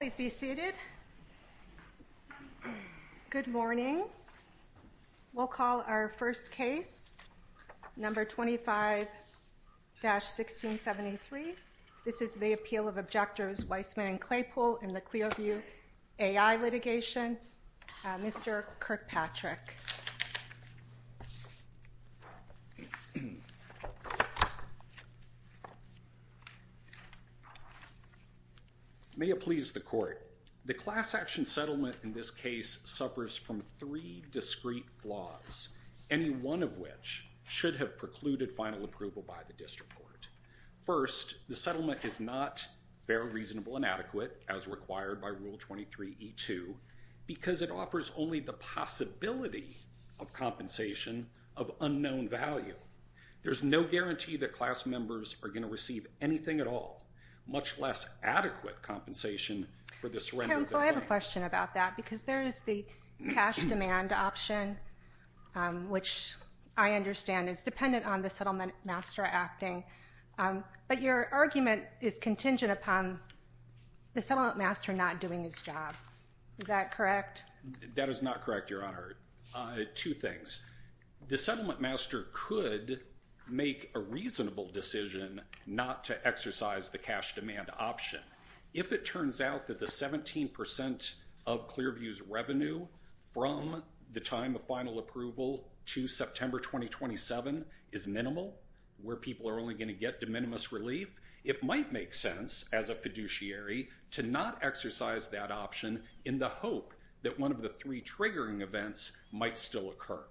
Please be seated. Good morning. We'll call our first case, number 25-1673. This is the appeal of objectors Weissman and Claypool in the Clearview AI litigation. Mr. Kirkpatrick. May it please the court. The class action settlement in this case suffers from three discrete flaws, any one of which should have precluded final approval by the district court. First, the settlement is not fair, reasonable, and adequate, as required by Rule 23E2, because it offers only the possibility of compensation of unknown value. There's no guarantee that class members are going to receive anything at all, much less adequate compensation for the surrender of their claim. Counsel, I have a question about that, because there is the cash demand option, which I understand is dependent on the settlement master acting, but your argument is contingent upon the settlement master not doing his job. Is that correct? That is not correct, Your Honor. Two things. The settlement master could make a reasonable decision not to exercise the cash demand option. If it turns out that the 17% of Clearview's revenue from the time of final approval to September 2027 is minimal, where people are only going to get de minimis relief, it might make sense, as a fiduciary, to not exercise that option in the hope that one of the three triggering events might still occur.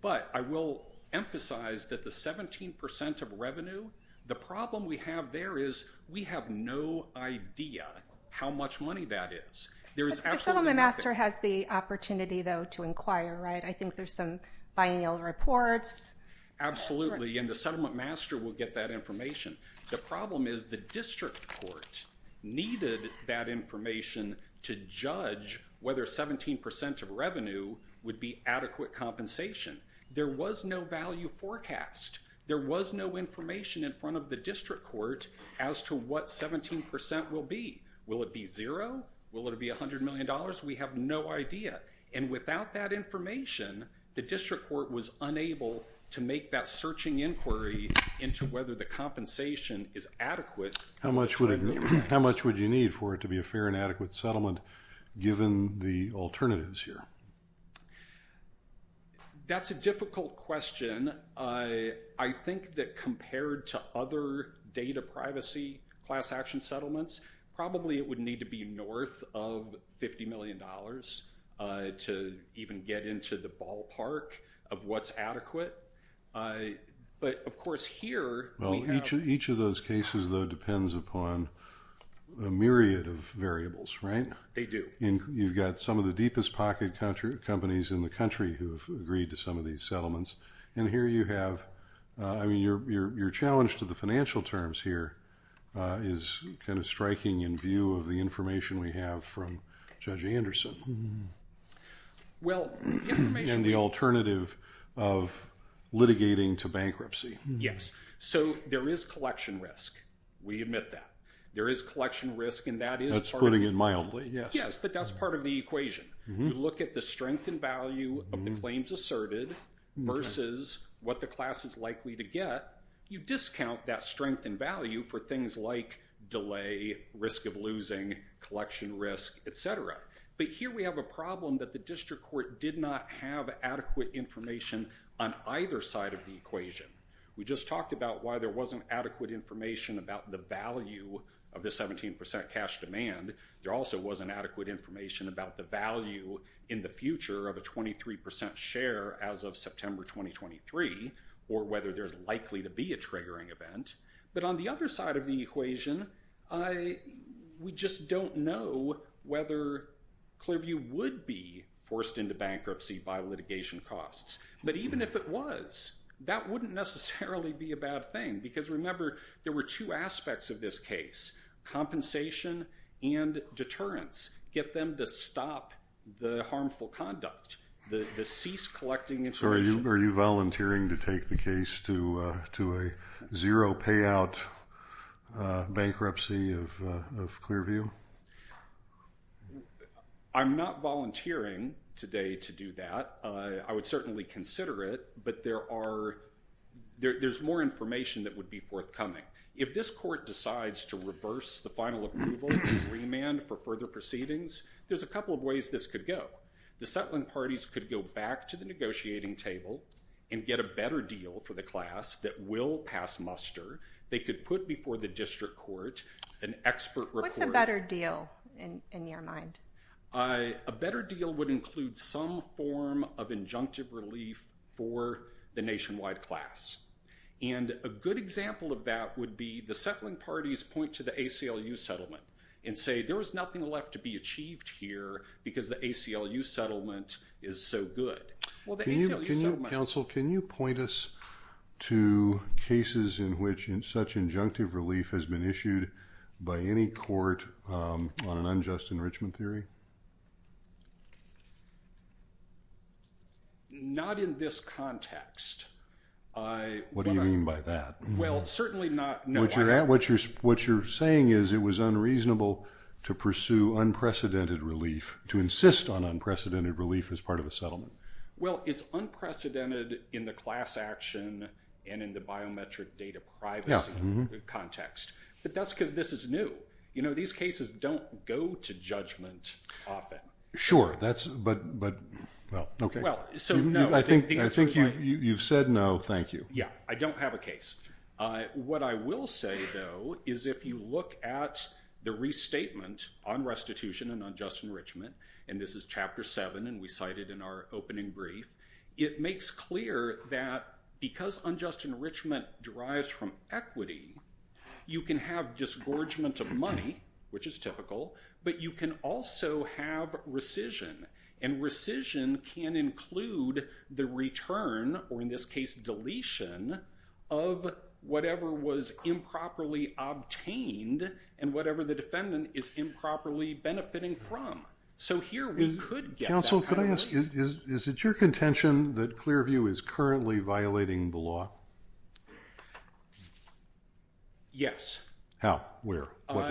But I will emphasize that the 17% of revenue, the problem we have there is we have no idea how much money that is. There is absolutely nothing. The settlement master has the opportunity, though, to inquire, right? I think there's some biennial reports. Absolutely, and the settlement master will get that information. The problem is the district court needed that information to judge whether 17% of revenue would be adequate compensation. There was no value forecast. There was no information in front of the district court as to what 17% will be. Will it be zero? Will it be $100 million? We have no idea, and without that information, the district court was unable to make that searching inquiry into whether the compensation is adequate. How much would you need for it to be a fair and adequate settlement, given the alternatives here? That's a difficult question. I think that compared to other data privacy class action settlements, probably it would need to be north of $50 million to even get into the ballpark of what's adequate, but of course here, we have- Each of those cases, though, depends upon a myriad of variables, right? They do. You've got some of the deepest pocket companies in the country who have agreed to some of these settlements, and here you have... I mean, your challenge to the financial terms here is kind of striking in view of the information we have from Judge Anderson and the alternative of litigating to bankruptcy. Yes. So there is collection risk. We admit that. There is collection risk, and that is part of- That's putting it mildly. Yes. Yes, but that's part of the equation. You look at the strength and value of the claims asserted versus what the class is likely to get, you discount that strength and value for things like delay, risk of losing, collection risk, et cetera, but here we have a problem that the district court did not have adequate information on either side of the equation. We just talked about why there wasn't adequate information about the value of the 17% cash demand. There also wasn't adequate information about the value in the future of a 23% share as of September 2023, or whether there's likely to be a triggering event, but on the other side of the equation, we just don't know whether Clearview would be forced into bankruptcy by litigation costs, but even if it was, that wouldn't necessarily be a bad thing, because remember there were two aspects of this case, compensation and deterrence. Get them to stop the harmful conduct, the cease collecting information. So are you volunteering to take the case to a zero payout bankruptcy of Clearview? I'm not volunteering today to do that. I would certainly consider it, but there's more information that would be forthcoming. If this court decides to reverse the final approval and remand for further proceedings, there's a couple of ways this could go. The settling parties could go back to the negotiating table and get a better deal for the class that will pass muster. They could put before the district court an expert report. What's a better deal in your mind? A better deal would include some form of injunctive relief for the nationwide class, and a good example of that would be the settling parties point to the ACLU settlement and say, there was nothing left to be achieved here because the ACLU settlement is so good. Well, the ACLU settlement- Counsel, can you point us to cases in which such injunctive relief has been issued by any court on an unjust enrichment theory? Not in this context. What do you mean by that? Well, certainly not- What you're saying is it was unreasonable to pursue unprecedented relief, to insist on unprecedented relief as part of a settlement. Well, it's unprecedented in the class action and in the biometric data privacy context, but that's because this is new. These cases don't go to judgment often. Sure, but, well, okay. I think you've said no, thank you. Yeah, I don't have a case. What I will say, though, is if you look at the restatement on restitution and unjust enrichment, and this is chapter seven and we cited in our opening brief, it makes clear that because unjust enrichment derives from equity, you can have disgorgement of money, which is typical, but you can also have rescission, and rescission can include the return, or in this case, deletion of whatever was improperly obtained and whatever the defendant is improperly benefiting from. So, here we could get that kind of relief. Counsel, could I ask, is it your contention that Clearview is currently violating the law? Yes. How? Where? What law?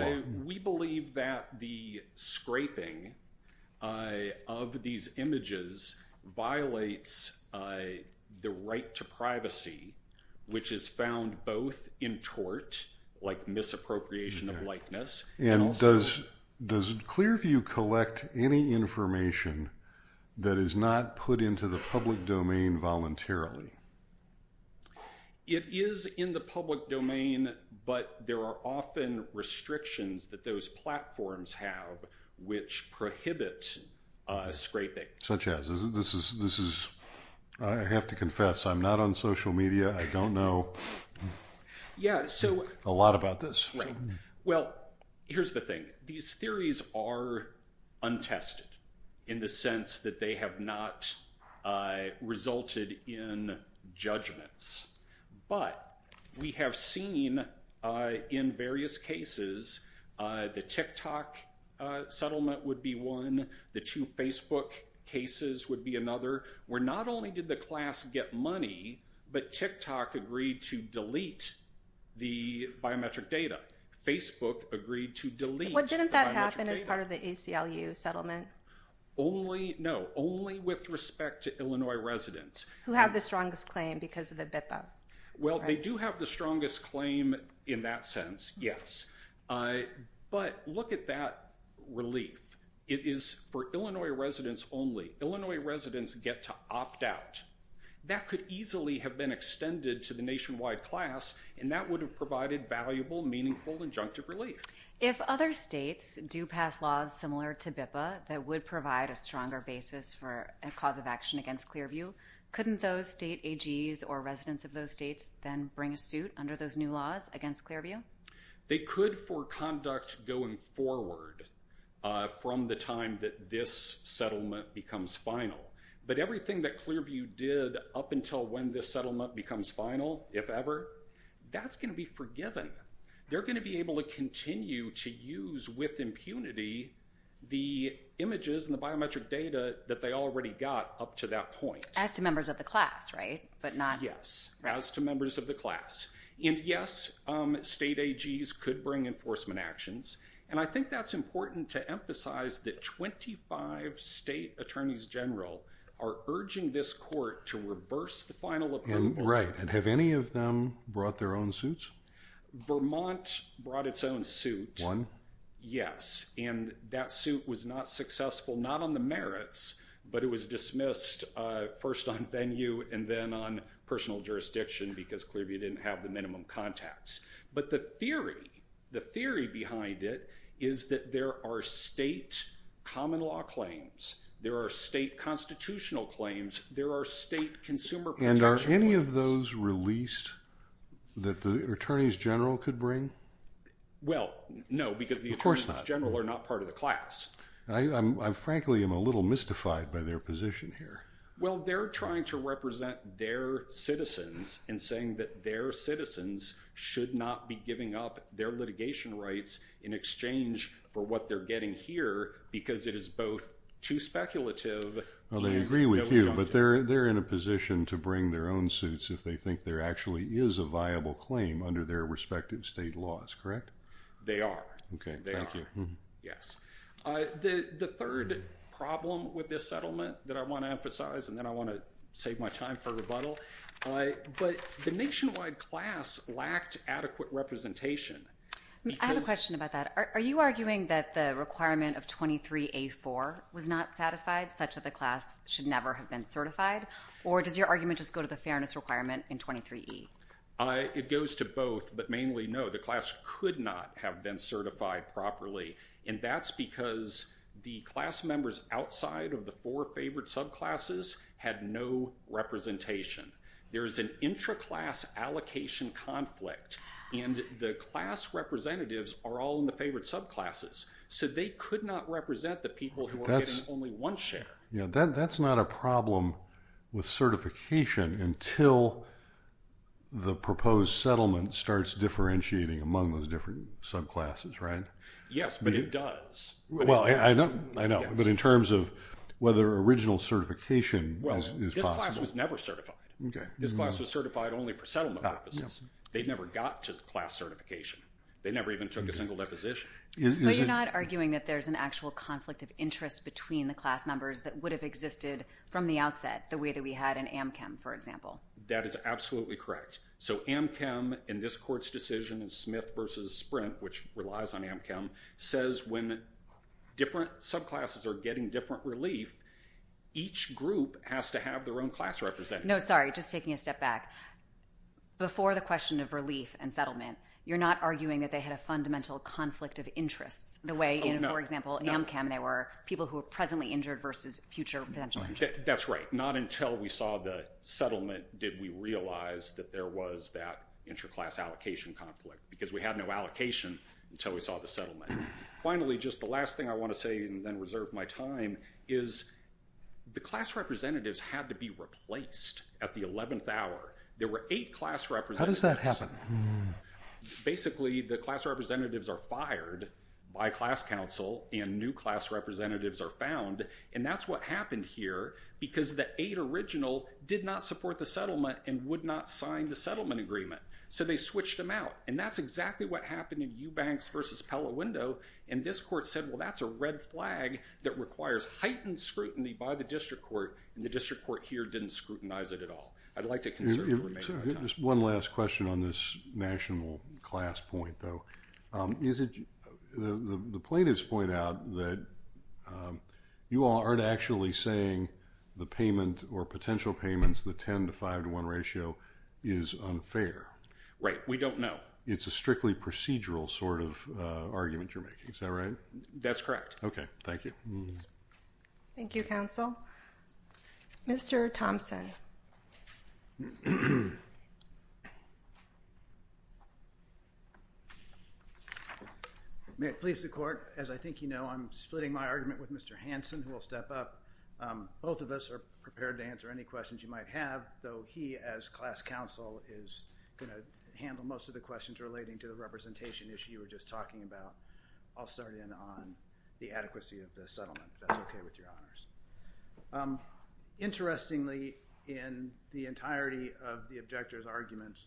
The right to privacy, which is found both in tort, like misappropriation of likeness, and also... And does Clearview collect any information that is not put into the public domain voluntarily? It is in the public domain, but there are often restrictions that those platforms have which prohibit scraping. Such as? This is, I have to confess, I'm not on social media. I don't know a lot about this. Well, here's the thing. These theories are untested, in the sense that they have not resulted in judgments, but we have seen in various cases, the TikTok settlement would be one, the two Facebook cases would be another, where not only did the class get money, but TikTok agreed to delete the biometric data. Facebook agreed to delete the biometric data. But didn't that happen as part of the ACLU settlement? Only, no, only with respect to Illinois residents. Who have the strongest claim because of the BIPA? Well, they do have the strongest claim in that sense, yes. But look at that relief. It is for Illinois residents only. Illinois residents get to opt out. That could easily have been extended to the nationwide class, and that would have provided valuable, meaningful, injunctive relief. If other states do pass laws similar to BIPA that would provide a stronger basis for a law of action against Clearview, couldn't those state AGs or residents of those states then bring a suit under those new laws against Clearview? They could for conduct going forward from the time that this settlement becomes final. But everything that Clearview did up until when this settlement becomes final, if ever, that's going to be forgiven. They're going to be able to continue to use with impunity the images and the biometric data that they already got up to that point. As to members of the class, right? Yes, as to members of the class. And yes, state AGs could bring enforcement actions. And I think that's important to emphasize that 25 state attorneys general are urging this court to reverse the final approval. And have any of them brought their own suits? Vermont brought its own suit. One? Yes. And that suit was not successful. Not on the merits, but it was dismissed first on venue and then on personal jurisdiction because Clearview didn't have the minimum contacts. But the theory behind it is that there are state common law claims. There are state constitutional claims. There are state consumer protection claims. And are any of those released that the attorneys general could bring? Well, no, because the attorneys general are not part of the class. I frankly am a little mystified by their position here. Well, they're trying to represent their citizens and saying that their citizens should not be giving up their litigation rights in exchange for what they're getting here because it is both too speculative. Well, they agree with you, but they're in a position to bring their own suits if they think there actually is a viable claim under their respective state laws, correct? They are. Okay, thank you. The third problem with this settlement that I want to emphasize and then I want to save my time for rebuttal, but the nationwide class lacked adequate representation. I have a question about that. Are you arguing that the requirement of 23A4 was not satisfied such that the class should never have been certified? Or does your argument just go to the fairness requirement in 23E? It goes to both, but mainly no. The class could not have been certified properly. And that's because the class members outside of the four favorite subclasses had no representation. There is an intra-class allocation conflict. And the class representatives are all in the favorite subclasses. So they could not represent the people who were getting only one share. That's not a problem with certification until the proposed settlement starts differentiating among those different subclasses, right? Yes, but it does. I know, but in terms of whether original certification is possible. Well, this class was never certified. This class was certified only for settlement purposes. They never got to the class certification. They never even took a single deposition. But you're not arguing that there's an actual conflict of interest between the class members that would have existed from the outset, the way that we had in AmChem, for example. That is absolutely correct. So AmChem, in this court's decision, in Smith v. Sprint, which relies on AmChem, says when different subclasses are getting different relief, each group has to have their own class representative. No, sorry, just taking a step back. Before the question of relief and settlement, you're not arguing that they had a fundamental conflict of interest, the way, for example, in AmChem, they were people who were presently injured versus future potential injuries. That's right. Not until we saw the settlement did we realize that there was that interclass allocation conflict, because we had no allocation until we saw the settlement. Finally, just the last thing I want to say, and then reserve my time, is the class representatives had to be replaced at the 11th hour. There were eight class representatives. How does that happen? Basically, the class representatives are fired by class counsel, and new class representatives are found. And that's what happened here, because the eight original did not support the settlement and would not sign the settlement agreement. So they switched them out. And that's exactly what happened in Eubanks v. Pellowindo. And this court said, well, that's a red flag that requires heightened scrutiny by the district court, and the district court here didn't scrutinize it at all. I'd like to conserve your remaining time. Just one last question on this national class point, though. The plaintiffs point out that you aren't actually saying the payment or potential payments, the 10 to 5 to 1 ratio, is unfair. Right. We don't know. It's a strictly procedural sort of argument you're making. Is that right? That's correct. Okay. Thank you. Thank you, counsel. Mr. Thompson. May it please the court. As I think you know, I'm splitting my argument with Mr. Hansen, who will step up. Both of us are prepared to answer any questions you might have, though he, as class counsel, is going to handle most of the questions relating to the representation issue you were just talking about. I'll start in on the adequacy of the settlement, if that's okay with your honors. Interestingly, in the entirety of the objector's arguments,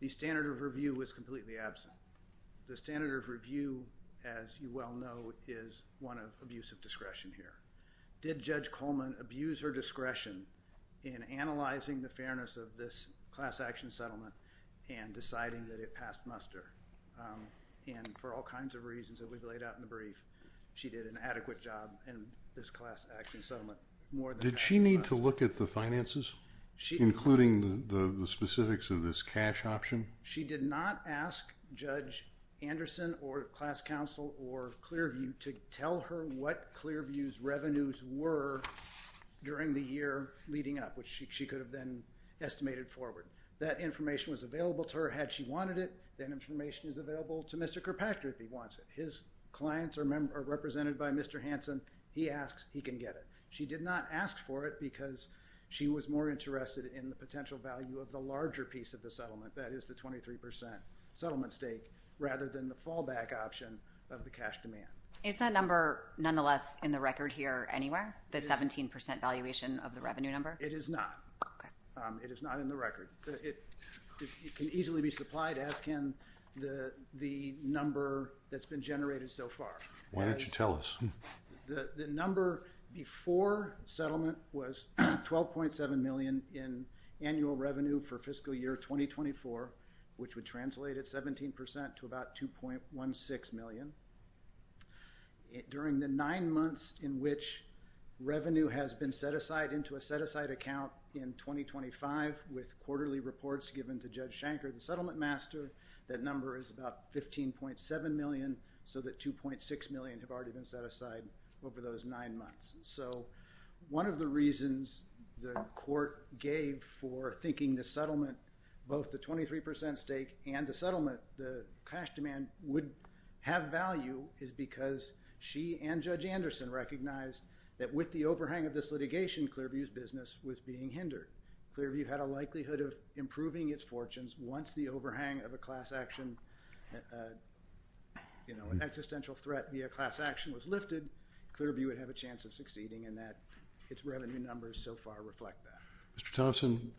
the standard of review was completely absent. The standard of review, as you well know, is one of abusive discretion here. Did Judge Coleman abuse her discretion in analyzing the fairness of this class action settlement and deciding that it passed muster? And for all kinds of reasons that we've laid out in the brief, she did an adequate job in this class action settlement. Did she need to look at the finances, including the specifics of this cash option? She did not ask Judge Anderson or class counsel or Clearview to tell her what Clearview's revenues were during the year leading up, which she could have then estimated forward. That information was available to her had she wanted it. That information is available to Mr. Kirkpatrick if he wants it. If his clients are represented by Mr. Hanson, he asks, he can get it. She did not ask for it because she was more interested in the potential value of the larger piece of the settlement, that is the 23% settlement stake, rather than the fallback option of the cash demand. Is that number nonetheless in the record here anywhere, the 17% valuation of the revenue number? It is not. It is not in the record. It can easily be supplied, as can the number that's been generated so far. Why don't you tell us? The number before settlement was $12.7 million in annual revenue for fiscal year 2024, which would translate at 17% to about $2.16 million. During the nine months in which revenue has been set aside account in 2025 with quarterly reports given to Judge Shanker, the settlement master, that number is about $15.7 million, so that $2.6 million have already been set aside over those nine months. One of the reasons the court gave for thinking the settlement, both the 23% stake and the settlement, the cash demand, would have value is because she and Judge Anderson recognized that with the overhang of this litigation, Clearview's business was being hindered. Clearview had a likelihood of improving its fortunes once the overhang of a class action, an existential threat via class action was lifted, Clearview would have a chance of succeeding and that its revenue numbers so far reflect that. Mr. Thompson,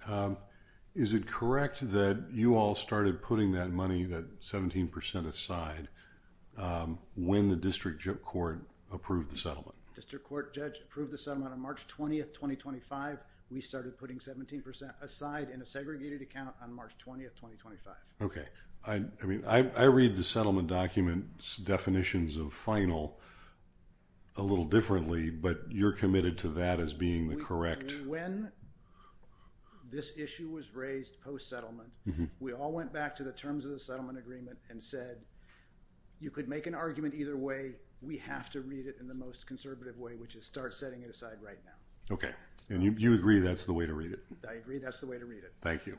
is it correct that you all started putting that money, that 17% aside, when the district court approved the settlement? District court judge approved the settlement on March 20, 2025. We started putting 17% aside in a segregated account on March 20, 2025. Okay. I read the settlement document's definitions of final a little differently, but you're committed to that as being the correct... When this issue was raised post-settlement, we all went back to the terms of the settlement agreement and said, you could make an argument either way, we have to read it in the most conservative way, which is start setting it aside right now. Okay. And you agree that's the way to read it? I agree that's the way to read it. Thank you.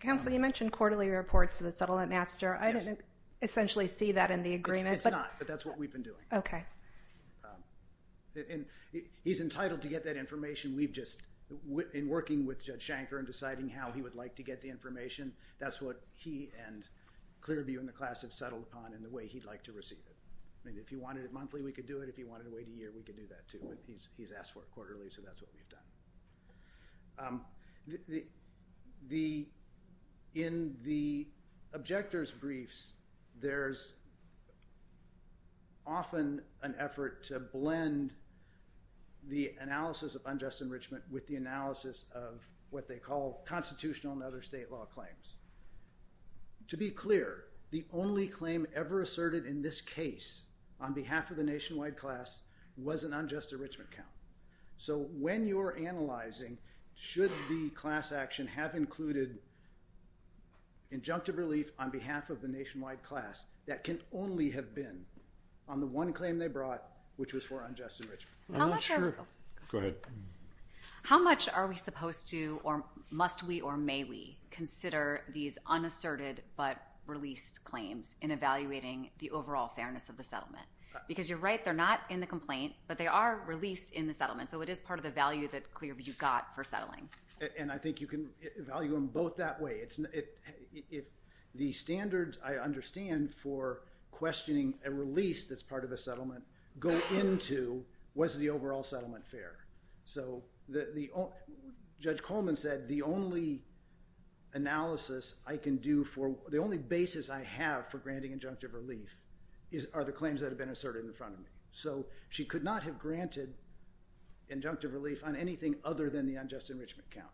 Counsel, you mentioned quarterly reports to the settlement master. I didn't essentially see that in the agreement, but... It's not, but that's what we've been doing. Okay. And he's entitled to get that information, we've just... In working with Judge Shanker and deciding how he would like to get the information, that's what he and Clearview and the class have settled upon and the way he'd like to receive it. I mean, if he wanted it monthly, we could do it. If he wanted to wait a year, we could do that, too. He's asked for it quarterly, so that's what we've done. In the objector's briefs, there's often an effort to blend the analysis of unjust enrichment with the analysis of what they call constitutional and other state law claims. To be clear, the only claim ever asserted in this case on behalf of the nationwide class was an unjust enrichment count. So when you're analyzing, should the class action have included injunctive relief on behalf of the nationwide class, that can only have been on the one claim they brought, which was for unjust enrichment. I'm not sure... Go ahead. How much are we supposed to, or must we or may we, consider these unasserted but released claims in evaluating the overall fairness of the settlement? Because you're right, they're not in the complaint, but they are released in the settlement. So it is part of the value that Clearview got for settling. And I think you can value them both that way. The standards I understand for questioning a release that's part of a settlement go into was the overall settlement fair. So Judge Coleman said the only analysis I can do for, the only basis I have for granting injunctive relief are the claims that have been asserted in front of me. So she could not have granted injunctive relief on anything other than the unjust enrichment count.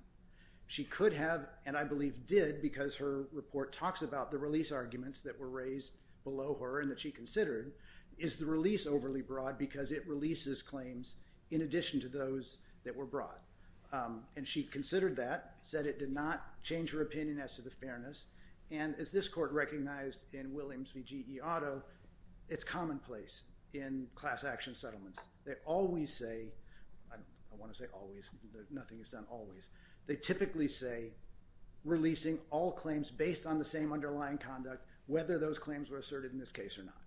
She could have, and I believe did, because her report talks about the release arguments that were raised below her and that she considered, is the release overly broad because it releases claims in addition to those that were broad. And she considered that, said it did not change her opinion as to the fairness, and as this court recognized in Williams v. G. E. Otto, it's commonplace in class action settlements. They always say, I want to say always, nothing is done always, they typically say releasing all claims based on the same underlying conduct, whether those claims were asserted in this case or not.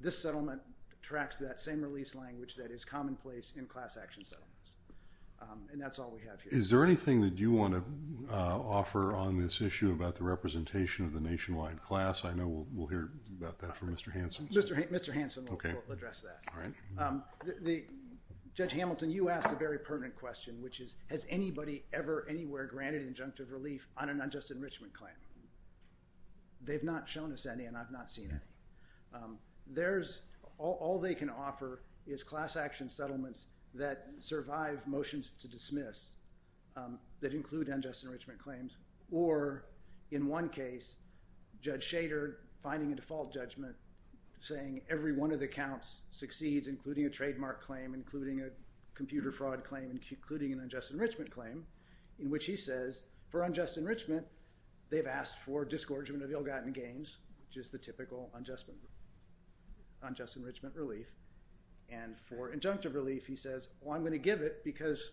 This settlement tracks that same release language that is commonplace in class action settlements. And that's all we have here. Is there anything that you want to offer on this issue about the representation of the nationwide class? I know we'll hear about that from Mr. Hanson. Mr. Hanson will address that. Judge Hamilton, you asked a very pertinent question, which is, has anybody ever, anywhere, granted injunctive relief on an unjust enrichment claim? They've not shown us any and I've not seen any. All they can offer is class action settlements that survive motions to dismiss, that include unjust enrichment claims. Or, in one case, Judge Shader finding a default judgment, saying every one of the counts succeeds, including a trademark claim, including a computer fraud claim, including an unjust enrichment claim, in which he says, for unjust enrichment, they've asked for disgorgement of ill-gotten gains, which is the typical unjust enrichment relief. And for injunctive relief, he says, I'm going to give it because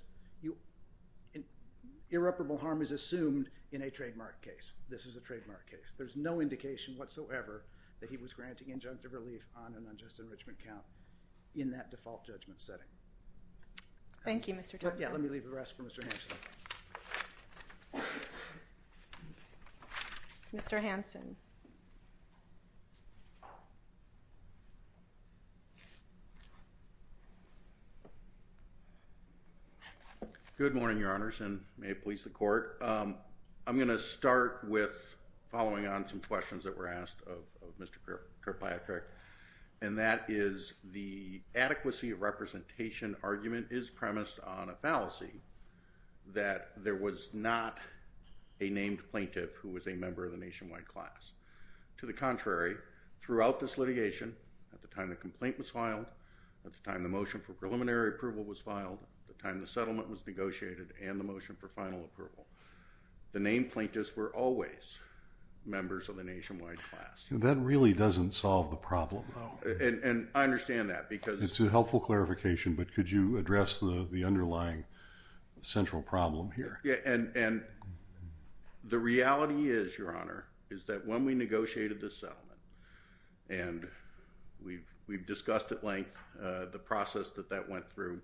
irreparable harm is assumed in a trademark case. This is a trademark case. There's no indication whatsoever that he was granting injunctive relief on an unjust enrichment count in that default judgment setting. Thank you, Mr. Thompson. Let me leave the rest for Mr. Hanson. Mr. Hanson. Good morning, Your Honors, and may it please the Court. I'm going to start with following on some questions that were asked of Mr. Kirkpatrick, and that is, the adequacy of representation argument is premised on a fallacy. That there was not a named plaintiff who was a member of the nationwide class. To the contrary, throughout this litigation, at the time the complaint was filed, at the time the motion for preliminary approval was filed, at the time the settlement was negotiated, and the motion for final approval, the named plaintiffs were always members of the nationwide class. That really doesn't solve the problem, though. And I understand that, because... It's a helpful clarification, but could you address the underlying central problem here? Yeah, and the reality is, Your Honor, is that when we negotiated this settlement, and we've discussed at length the process that that went through,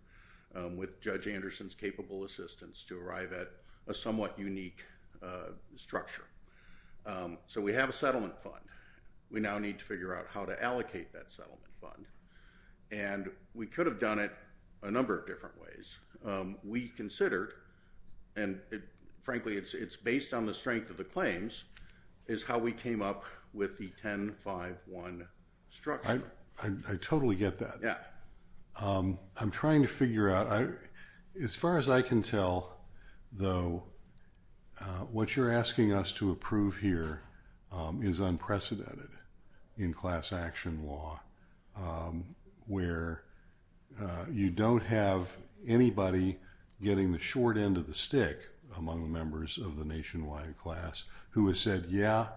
with Judge Anderson's capable assistance, to arrive at a somewhat unique structure. So we have a settlement fund. We now need to figure out how to allocate that settlement fund. And we could have done it a number of different ways. We considered, and frankly, it's based on the strength of the claims, is how we came up with the 10-5-1 structure. I totally get that. I'm trying to figure out... As far as I can tell, though, what you're asking us to approve here is unprecedented in class action law. Where you don't have anybody getting the short end of the stick among the members of the nationwide class who has said, yeah,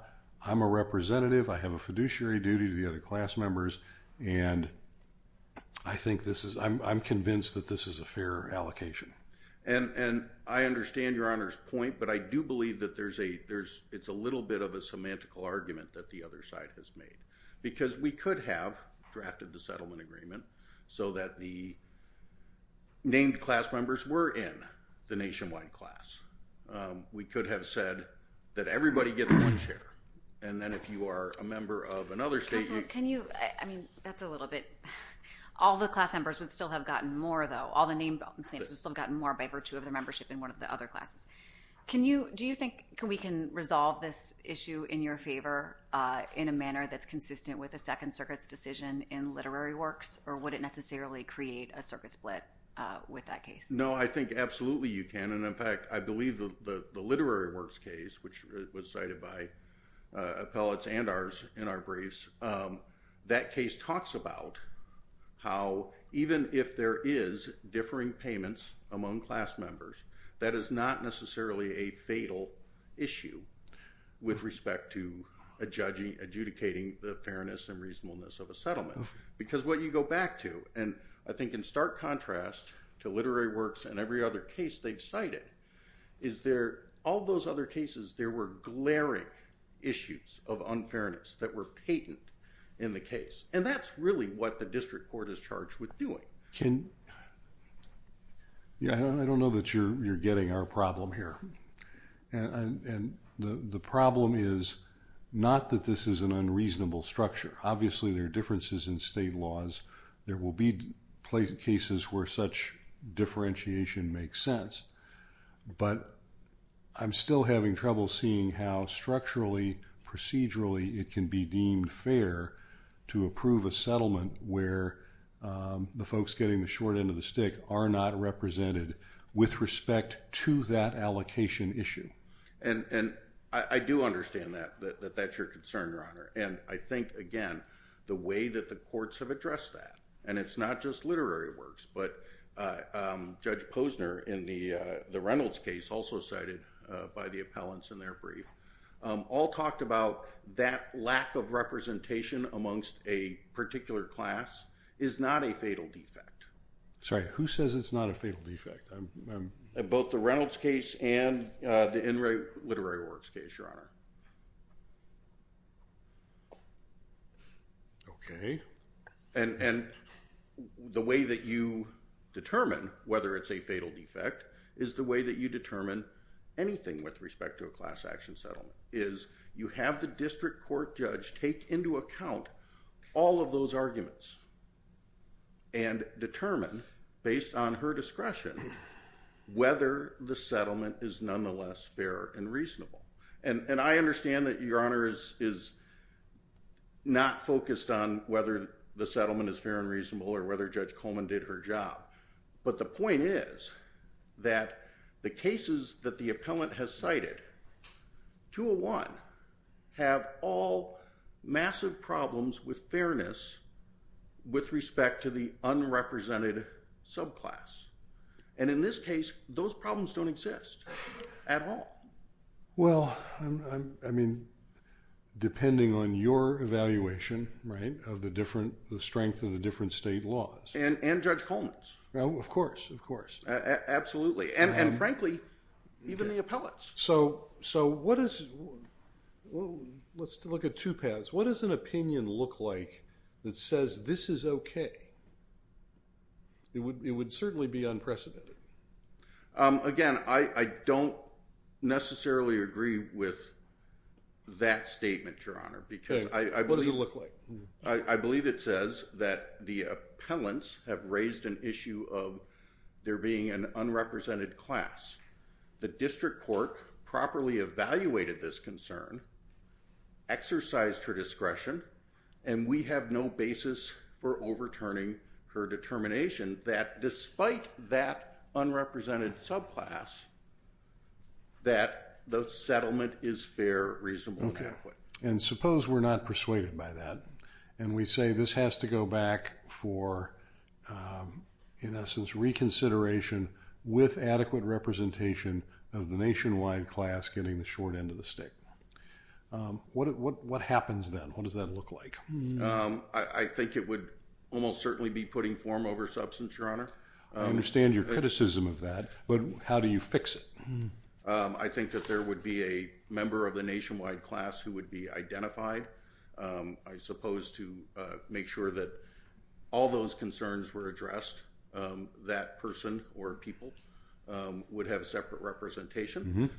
I'm a representative, I have a fiduciary duty to the other class members, and I think this is... I'm convinced that this is a fair allocation. And I understand Your Honor's point, but I do believe that there's a... It's a little bit of a semantical argument that the other side has made. Because we could have drafted the settlement agreement so that the named class members were in the nationwide class. We could have said that everybody gets one chair. And then if you are a member of another state... Can you... I mean, that's a little bit... All the class members would still have gotten more, though. All the named claims would still have gotten more by virtue of their membership in one of the other classes. Do you think we can resolve this issue in your favor in a manner that's consistent with the Second Circuit's decision in Literary Works? Or would it necessarily create a circuit split with that case? No, I think absolutely you can. And in fact, I believe the Literary Works case, which was cited by appellates and ours in our briefs, that case talks about how, even if there is differing payments among class members, that is not necessarily a fatal issue with respect to adjudicating the fairness and reasonableness of a settlement. Because what you go back to, and I think in stark contrast to Literary Works and every other case they've cited, is there... all those other cases, there were glaring issues of unfairness that were patent in the case. And that's really what the district court is charged with doing. I don't know that you're getting our problem here. And the problem is not that this is an unreasonable structure. Obviously there are differences in state laws. There will be cases where such differentiation makes sense. But I'm still having trouble seeing how structurally, procedurally, it can be deemed fair to approve a settlement where the folks getting the short end of the stick are not represented with respect to that allocation issue. And I do understand that, that that's your concern, Your Honor. And I think, again, the way that the courts have addressed that, and it's not just Literary Works, but Judge Posner in the Reynolds case, also cited by the appellants in their brief, all talked about that lack of representation amongst a particular class is not a fatal defect. Sorry, who says it's not a fatal defect? Both the Reynolds case and the Literary Works case, Your Honor. Okay. And the way that you determine whether it's a fatal defect is the way that you determine anything with respect to a class action settlement, is you have the district court judge take into account all of those arguments and determine, based on her discretion, whether the settlement is nonetheless fair and reasonable. And I understand that Your Honor is not focused on whether the settlement is fair and reasonable or whether Judge Coleman did her job. But the point is that the cases that the appellant has cited 201 have all massive problems with fairness with respect to the unrepresented subclass. And in this case, those problems don't exist. At all. Well, I mean, depending on your evaluation of the strength of the different state laws. And Judge Coleman's. Of course. Absolutely. And frankly, even the appellate's. Let's look at two paths. What does an opinion look like that says, this is okay? It would certainly be unprecedented. Again, I don't necessarily agree with that statement, Your Honor. What does it look like? I believe it says that the appellants have raised an issue of there being an unrepresented class. The district court properly evaluated this concern, exercised her discretion, and we have no basis for overturning her determination that despite that unrepresented subclass that the settlement is fair, reasonable, and adequate. And suppose we're not persuaded by that and we say this has to go back for, in essence, reconsideration with adequate representation of the nationwide class getting the short end of the stick. What happens then? What does that look like? I think it would almost certainly be putting form over substance, Your Honor. I understand your criticism of that, but how do you fix it? I think that there would be a member of the nationwide class who would be identified, I suppose to make sure that all those concerns were addressed, that person or people would have separate representation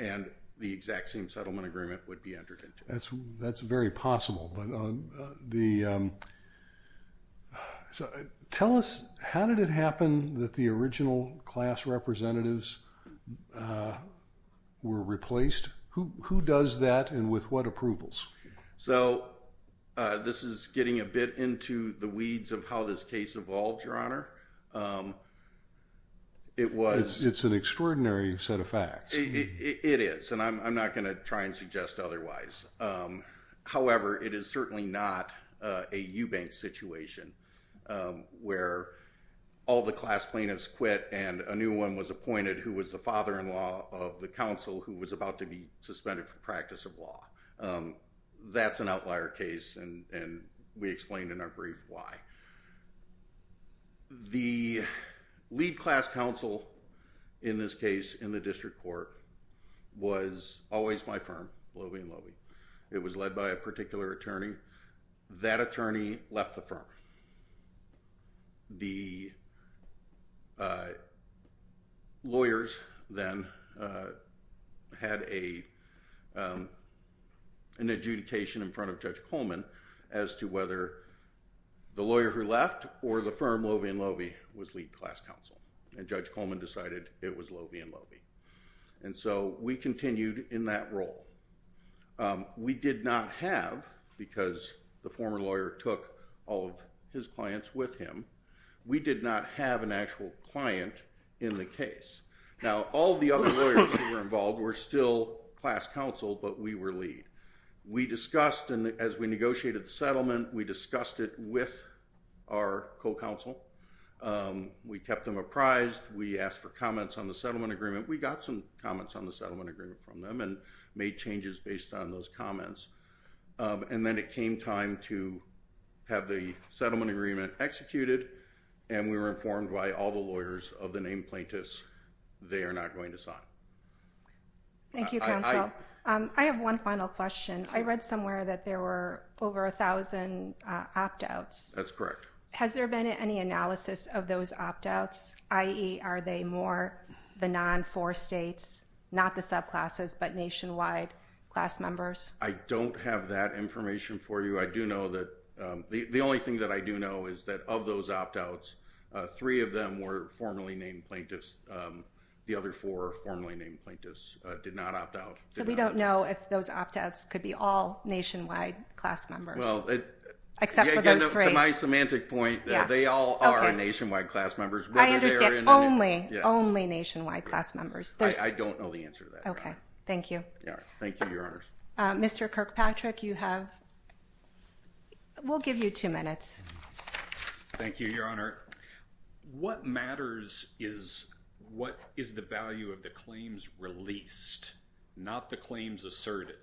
and the exact same settlement agreement would be entered into. That's very possible. Tell us, how did it happen that the subclass were replaced? Who does that and with what approvals? This is getting a bit into the weeds of how this case evolved, Your Honor. It's an extraordinary set of facts. It is, and I'm not going to try and suggest otherwise. However, it is certainly not a Eubanks situation where all the class plaintiffs quit and a new one was appointed who was the father-in-law of the counsel who was about to be suspended for practice of law. That's an outlier case and we explained in our brief why. The lead class counsel in this case in the district court was always my firm, Loewe & Loewe. It was led by a particular attorney. That attorney left the firm. The lawyers then had an adjudication in front of Judge Coleman as to whether the lawyer who left or the firm, Loewe & Loewe, was lead class counsel. Judge Coleman decided it was Loewe & Loewe. We continued in that role. We did not have, because the former lawyer took all of his clients with him, we did not have an actual client in the case. Now, all the other lawyers who were involved were still class counsel, but we were lead. We discussed, as we negotiated the settlement, we discussed it with our co-counsel. We kept them apprised. We asked for comments on the settlement agreement. We got some comments on the settlement agreement from them and made changes based on those comments. And then it came time to have the settlement agreement executed and we were informed why all the lawyers of the named plaintiffs, they are not going to sign. Thank you, counsel. I have one final question. I read somewhere that there were over a thousand opt-outs. That's correct. Has there been any analysis of those opt-outs, i.e., are they more the non-four states, not the subclasses, but nationwide class members? I don't have that information for you. I do know that the only thing that I do know is that of those opt-outs, three of them were formerly named plaintiffs. The other four formerly named plaintiffs did not opt-out. So we don't know if those opt-outs could be all nationwide class members, except for those three. To my semantic point, they all are nationwide class members. I understand. Only nationwide class members. I don't know the answer to that. Thank you. Mr. Kirkpatrick, you have... We'll give you two minutes. Thank you, Your Honor. What matters is what is the value of the claims released, not the claims asserted.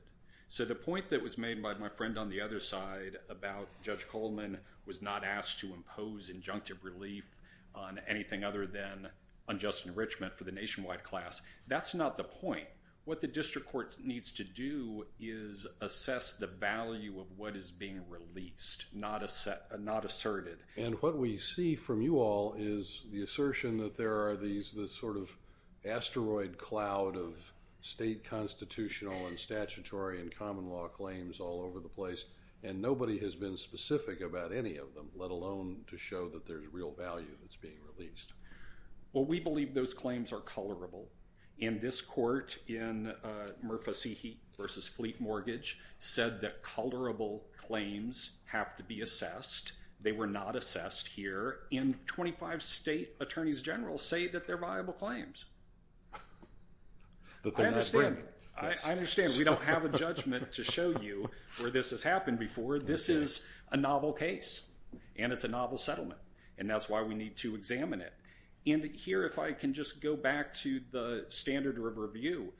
So the point that was made by my friend on the other side about Judge Coleman was not asked to impose injunctive relief on anything other than unjust enrichment for the nationwide class. That's not the point. What the district court needs to do is assess the value of what is being released, not asserted. And what we see from you all is the assertion that there are these sort of asteroid cloud of state constitutional and statutory and common law claims all over the place, and nobody has been that there's real value that's being released. Well, we believe those claims are colorable. And this court in Murphy v. Fleet Mortgage said that colorable claims have to be assessed. They were not assessed here. And 25 state attorneys general say that they're viable claims. I understand. We don't have a judgment to show you where this has happened before. This is a novel case. And it's a novel settlement. And that's why we need to examine it. And here, if I can just go back to the standard of review,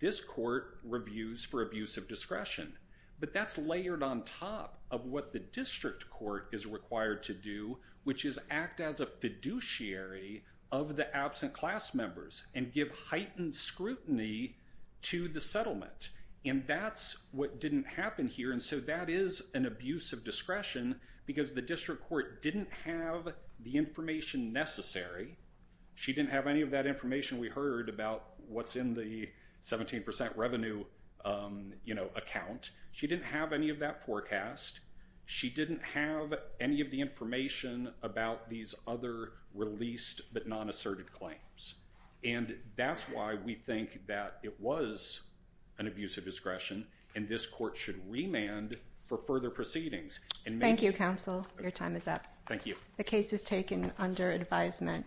this court reviews for abuse of discretion. But that's layered on top of what the district court is required to do, which is act as a fiduciary of the absent class members and give heightened scrutiny to the settlement. And that's what didn't happen here. And so that is an abuse of discretion because the district court didn't have the information necessary. She didn't have any of that information we heard about what's in the 17 percent revenue, you know, account. She didn't have any of that forecast. She didn't have any of the information about these other released but non-asserted claims. And that's why we think that it was an abuse of discretion. And this court should remand for further proceedings. Thank you, counsel. Your time is up. Thank you. The case is taken under advisement.